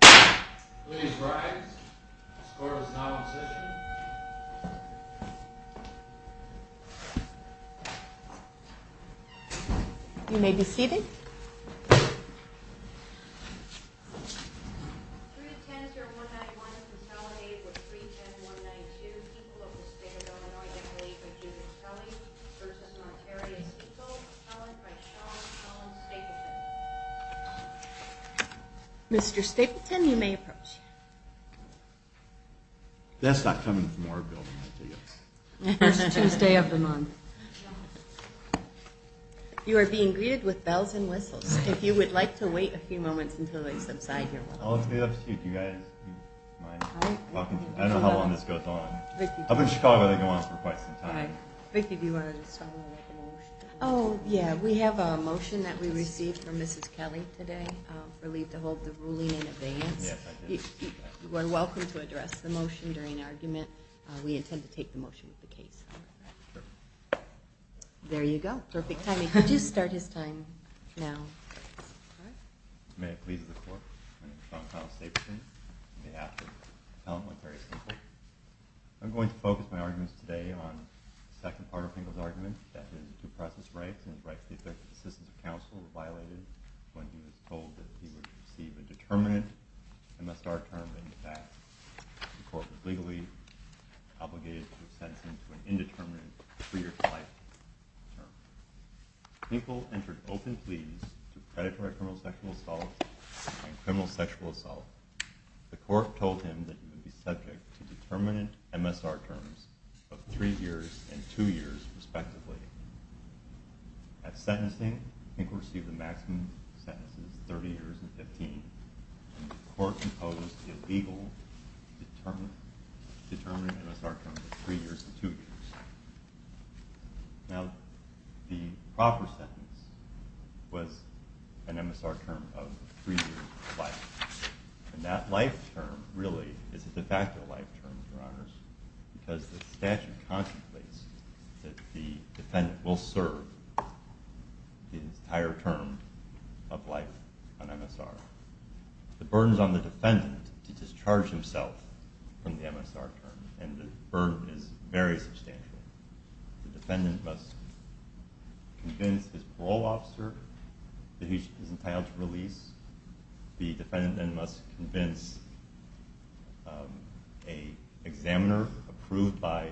Please rise. The score is now in session. You may be seated. 3-10-0191 consolidated with 3-10-192, people of the State of Illinois, declared by Judith Kelly v. Monterrey and Hinkle, consolidated by Sean Collins Stapleton. Mr. Stapleton, you may approach. That's not coming from our building, I take it. It's Tuesday of the month. You are being greeted with bells and whistles. If you would like to wait a few moments until they subside, you're welcome. I'll leave it up to you. Do you guys mind? I don't know how long this goes on. Up in Chicago, they go on for quite some time. Vicki, do you want to say something about the motion? Oh, yeah. We have a motion that we received from Mrs. Kelly today for Lee to hold the ruling in abeyance. You are welcome to address the motion during argument. We intend to take the motion with the case. Perfect. There you go. Perfect timing. You do start his time now. May it please the Court, my name is Sean Collins Stapleton, on behalf of the Parliamentary Assembly. I'm going to focus my arguments today on the second part of Finkel's argument, that his due process rights and his right to the effective assistance of counsel were violated when he was told that he would receive a determinate MSR term in advance. The Court was legally obligated to sentence him to an indeterminate, three-year-to-life term. Finkel entered open pleas to predatory criminal sexual assault and criminal sexual assault. The Court told him that he would be subject to determinate MSR terms of three years and two years, respectively. At sentencing, Finkel received a maximum sentence of 30 years and 15, and the Court imposed the illegal determinate MSR term of three years and two years. Now, the proper sentence was an MSR term of three years of life, and that life term really is a de facto life term, Your Honors, because the statute contemplates that the defendant will serve the entire term of life on MSR. The burden is on the defendant to discharge himself from the MSR term, and the burden is very substantial. The defendant must convince his parole officer that he is entitled to release. The defendant then must convince an examiner approved by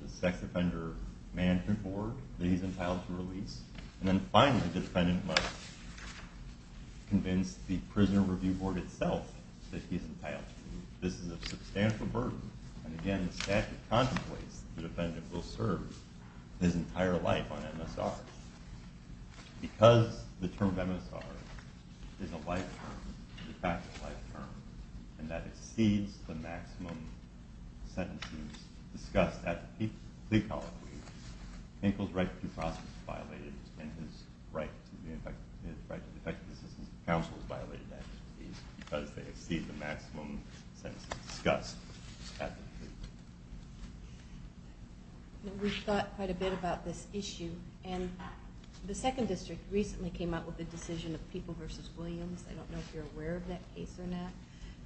the Sex Offender Management Board that he is entitled to release. And then finally, the defendant must convince the Prisoner Review Board itself that he is entitled to. This is a substantial burden, and again, the statute contemplates that the defendant will serve his entire life on MSR. Because the term MSR is a life term, a de facto life term, and that exceeds the maximum sentences discussed at the plea colloquy, Hinkle's right to due process is violated, and his right to effective assistance to counsel is violated at his plea because they exceed the maximum sentences discussed at the plea. We've thought quite a bit about this issue, and the Second District recently came out with a decision of People v. Williams. I don't know if you're aware of that case or not,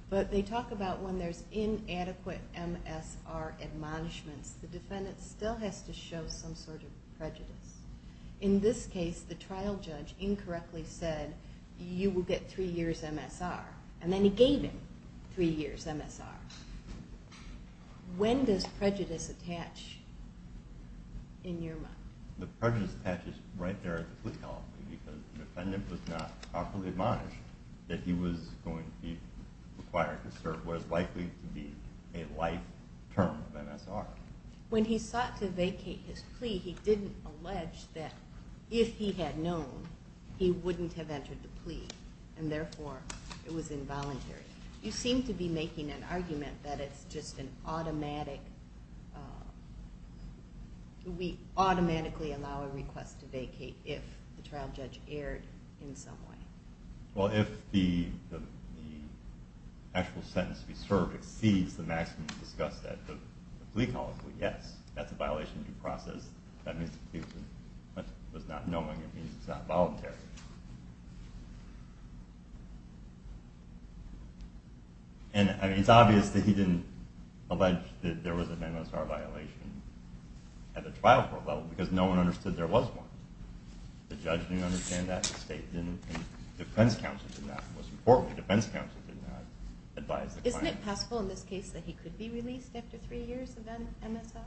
but they talk about when there's inadequate MSR admonishments, the defendant still has to show some sort of prejudice. In this case, the trial judge incorrectly said, you will get three years MSR, and then he gave him three years MSR. When does prejudice attach in your mind? The prejudice attaches right there at the plea colloquy because the defendant was not properly admonished that he was going to be required to serve what is likely to be a life term of MSR. When he sought to vacate his plea, he didn't allege that if he had known, he wouldn't have entered the plea, and therefore it was involuntary. You seem to be making an argument that it's just an automatic – we automatically allow a request to vacate if the trial judge erred in some way. Well, if the actual sentence to be served exceeds the maximum discussed at the plea colloquy, yes, that's a violation of due process. That means the defendant was not knowing. It means it's not voluntary. It's obvious that he didn't allege that there was an MSR violation at the trial court level because no one understood there was one. The judge didn't understand that. The defense counsel did not. Most importantly, the defense counsel did not advise the client. Isn't it possible in this case that he could be released after three years of MSR?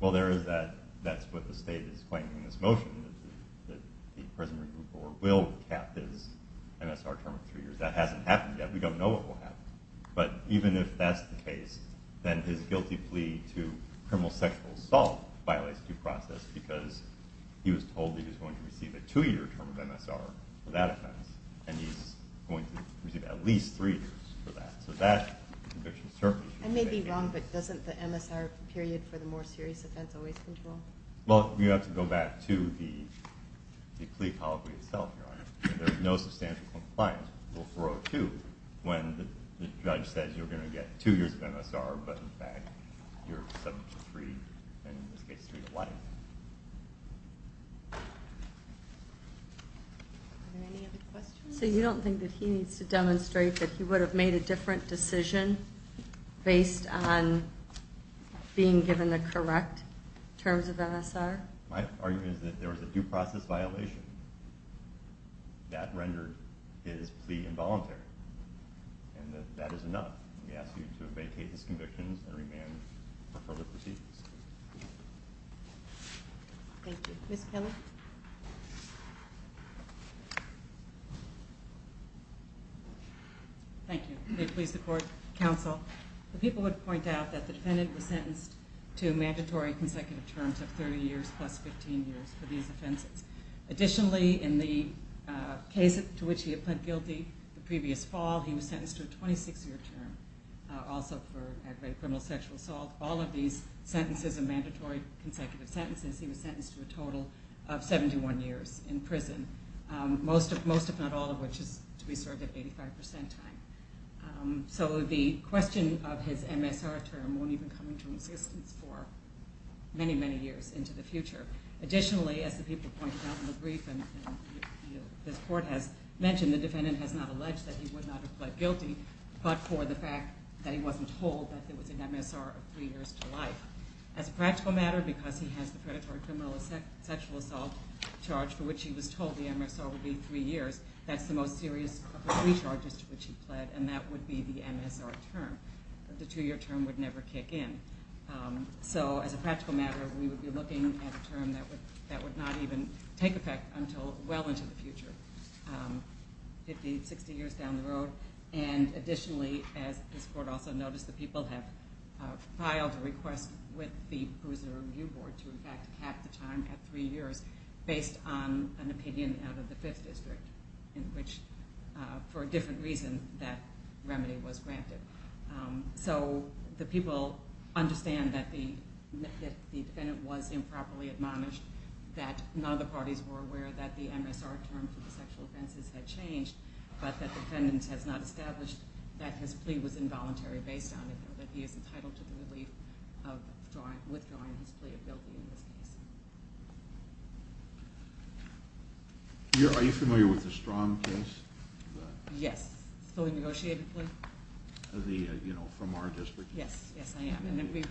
Well, there is that – that's what the state is claiming in this motion, that the prison review board will cap his MSR term of three years. That hasn't happened yet. We don't know what will happen. But even if that's the case, then his guilty plea to criminal sexual assault violates due process because he was told that he was going to receive a two-year term of MSR for that offense, and he's going to receive at least three years for that. So that conviction certainly should be vacated. I may be wrong, but doesn't the MSR period for the more serious offense always control? Well, you have to go back to the plea colloquy itself, Your Honor. There is no substantial compliance before O2 when the judge says you're going to get two years of MSR, but in fact you're subject to three, and in this case three to life. Are there any other questions? So you don't think that he needs to demonstrate that he would have made a different decision based on being given the correct terms of MSR? My argument is that there was a due process violation that rendered his plea involuntary, and that that is enough. We ask you to vacate his convictions and remand for further proceedings. Thank you. Ms. Kelly? Thank you. May it please the Court, Counsel. The people would point out that the defendant was sentenced to mandatory consecutive terms of 30 years plus 15 years for these offenses. Additionally, in the case to which he had pled guilty the previous fall, he was sentenced to a 26-year term, also for aggravated criminal sexual assault. All of these sentences are mandatory consecutive sentences. He was sentenced to a total of 71 years in prison, most if not all of which is to be served at 85 percent time. So the question of his MSR term won't even come into existence for many, many years into the future. Additionally, as the people pointed out in the brief and this Court has mentioned, the defendant has not alleged that he would not have pled guilty but for the fact that he wasn't told that there was an MSR of three years to life. As a practical matter, because he has the predatory criminal sexual assault charge for which he was told the MSR would be three years, that's the most serious of the three charges to which he pled, and that would be the MSR term. The two-year term would never kick in. So as a practical matter, we would be looking at a term that would not even take effect until well into the future, 50, 60 years down the road. And additionally, as this Court also noticed, the people have filed a request with the Bruiser Review Board to in fact cap the time at three years based on an opinion out of the Fifth District in which, for a different reason, that remedy was granted. So the people understand that the defendant was improperly admonished, that none of the parties were aware that the MSR term for the sexual offenses had changed, but that the defendant has not established that his plea was involuntary based on it, or that he is entitled to the relief of withdrawing his plea of guilty in this case. Are you familiar with the Strong case? Yes. Fully negotiated plea? The, you know, from our district? Yes, yes, I am. And we've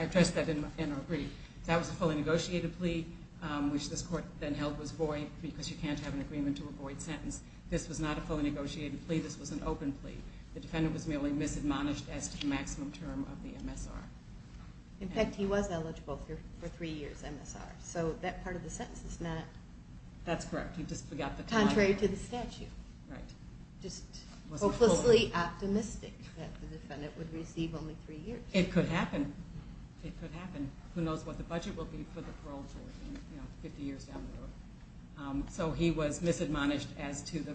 addressed that in our brief. That was a fully negotiated plea, which this Court then held was void because you can't have an agreement to a void sentence. This was not a fully negotiated plea. This was an open plea. The defendant was merely misadmonished as to the maximum term of the MSR. In fact, he was eligible for three years MSR. So that part of the sentence is not... That's correct. Contrary to the statute. Right. Just hopelessly optimistic that the defendant would receive only three years. It could happen. It could happen. Who knows what the budget will be for the parole board 50 years down the road. So he was misadmonished as to the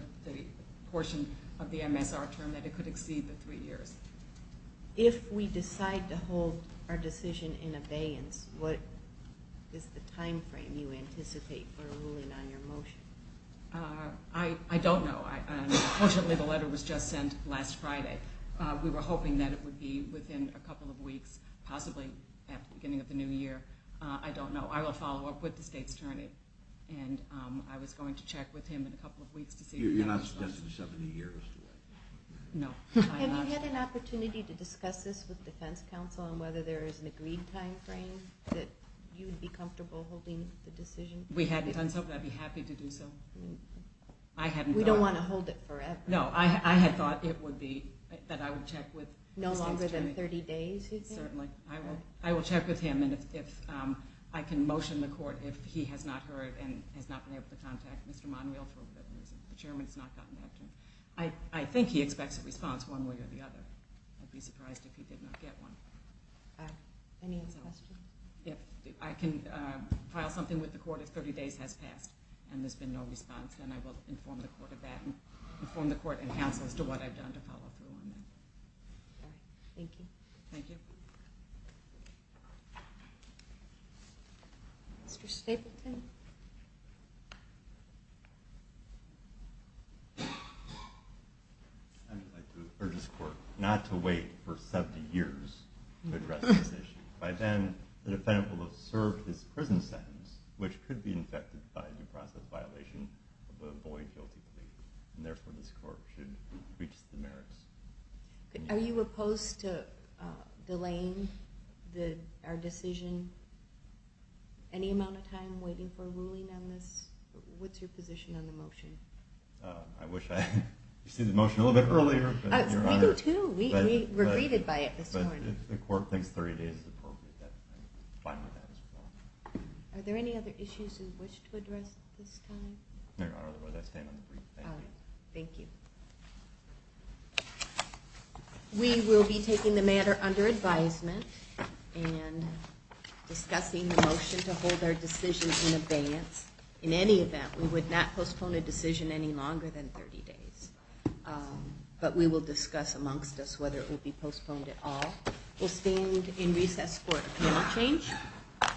portion of the MSR term that it could exceed the three years. If we decide to hold our decision in abeyance, what is the time frame you anticipate for a ruling on your motion? I don't know. Unfortunately, the letter was just sent last Friday. We were hoping that it would be within a couple of weeks, possibly at the beginning of the new year. I don't know. I will follow up with the State's Attorney, and I was going to check with him in a couple of weeks to see if he had an answer. You're not suggesting 70 years to it? No. Have you had an opportunity to discuss this with defense counsel on whether there is an agreed time frame that you would be comfortable holding the decision? We hadn't done so, but I'd be happy to do so. We don't want to hold it forever. No, I had thought it would be that I would check with the State's Attorney. No longer than 30 days, you think? Certainly. I will check with him, and I can motion the court if he has not heard and has not been able to contact Mr. Monwheel for whatever reason. The chairman has not gotten back to him. I think he expects a response one way or the other. I'd be surprised if he did not get one. Any other questions? If I can file something with the court if 30 days has passed and there's been no response, then I will inform the court of that and inform the court and counsel as to what I've done to follow through on that. All right. Thank you. Thank you. Mr. Stapleton? I would like to urge this court not to wait for 70 years to address this issue. By then, the defendant will have served his prison sentence, which could be infected by a due process violation of a void guilty plea, and therefore this court should reach the merits. Are you opposed to delaying our decision any amount of time waiting for the court? What's your position on the motion? I wish I had seen the motion a little bit earlier. We do too. We were greeted by it this morning. But if the court thinks 30 days is appropriate, then I'm fine with that as well. Are there any other issues you wish to address at this time? No, Your Honor. Otherwise, I stand on the brief. Thank you. All right. Thank you. We will be taking the matter under advisement and discussing the motion to hold our decisions in abeyance. In any event, we would not postpone a decision any longer than 30 days. But we will discuss amongst us whether it will be postponed at all. We'll stand in recess for a panel change. Court is now in recess.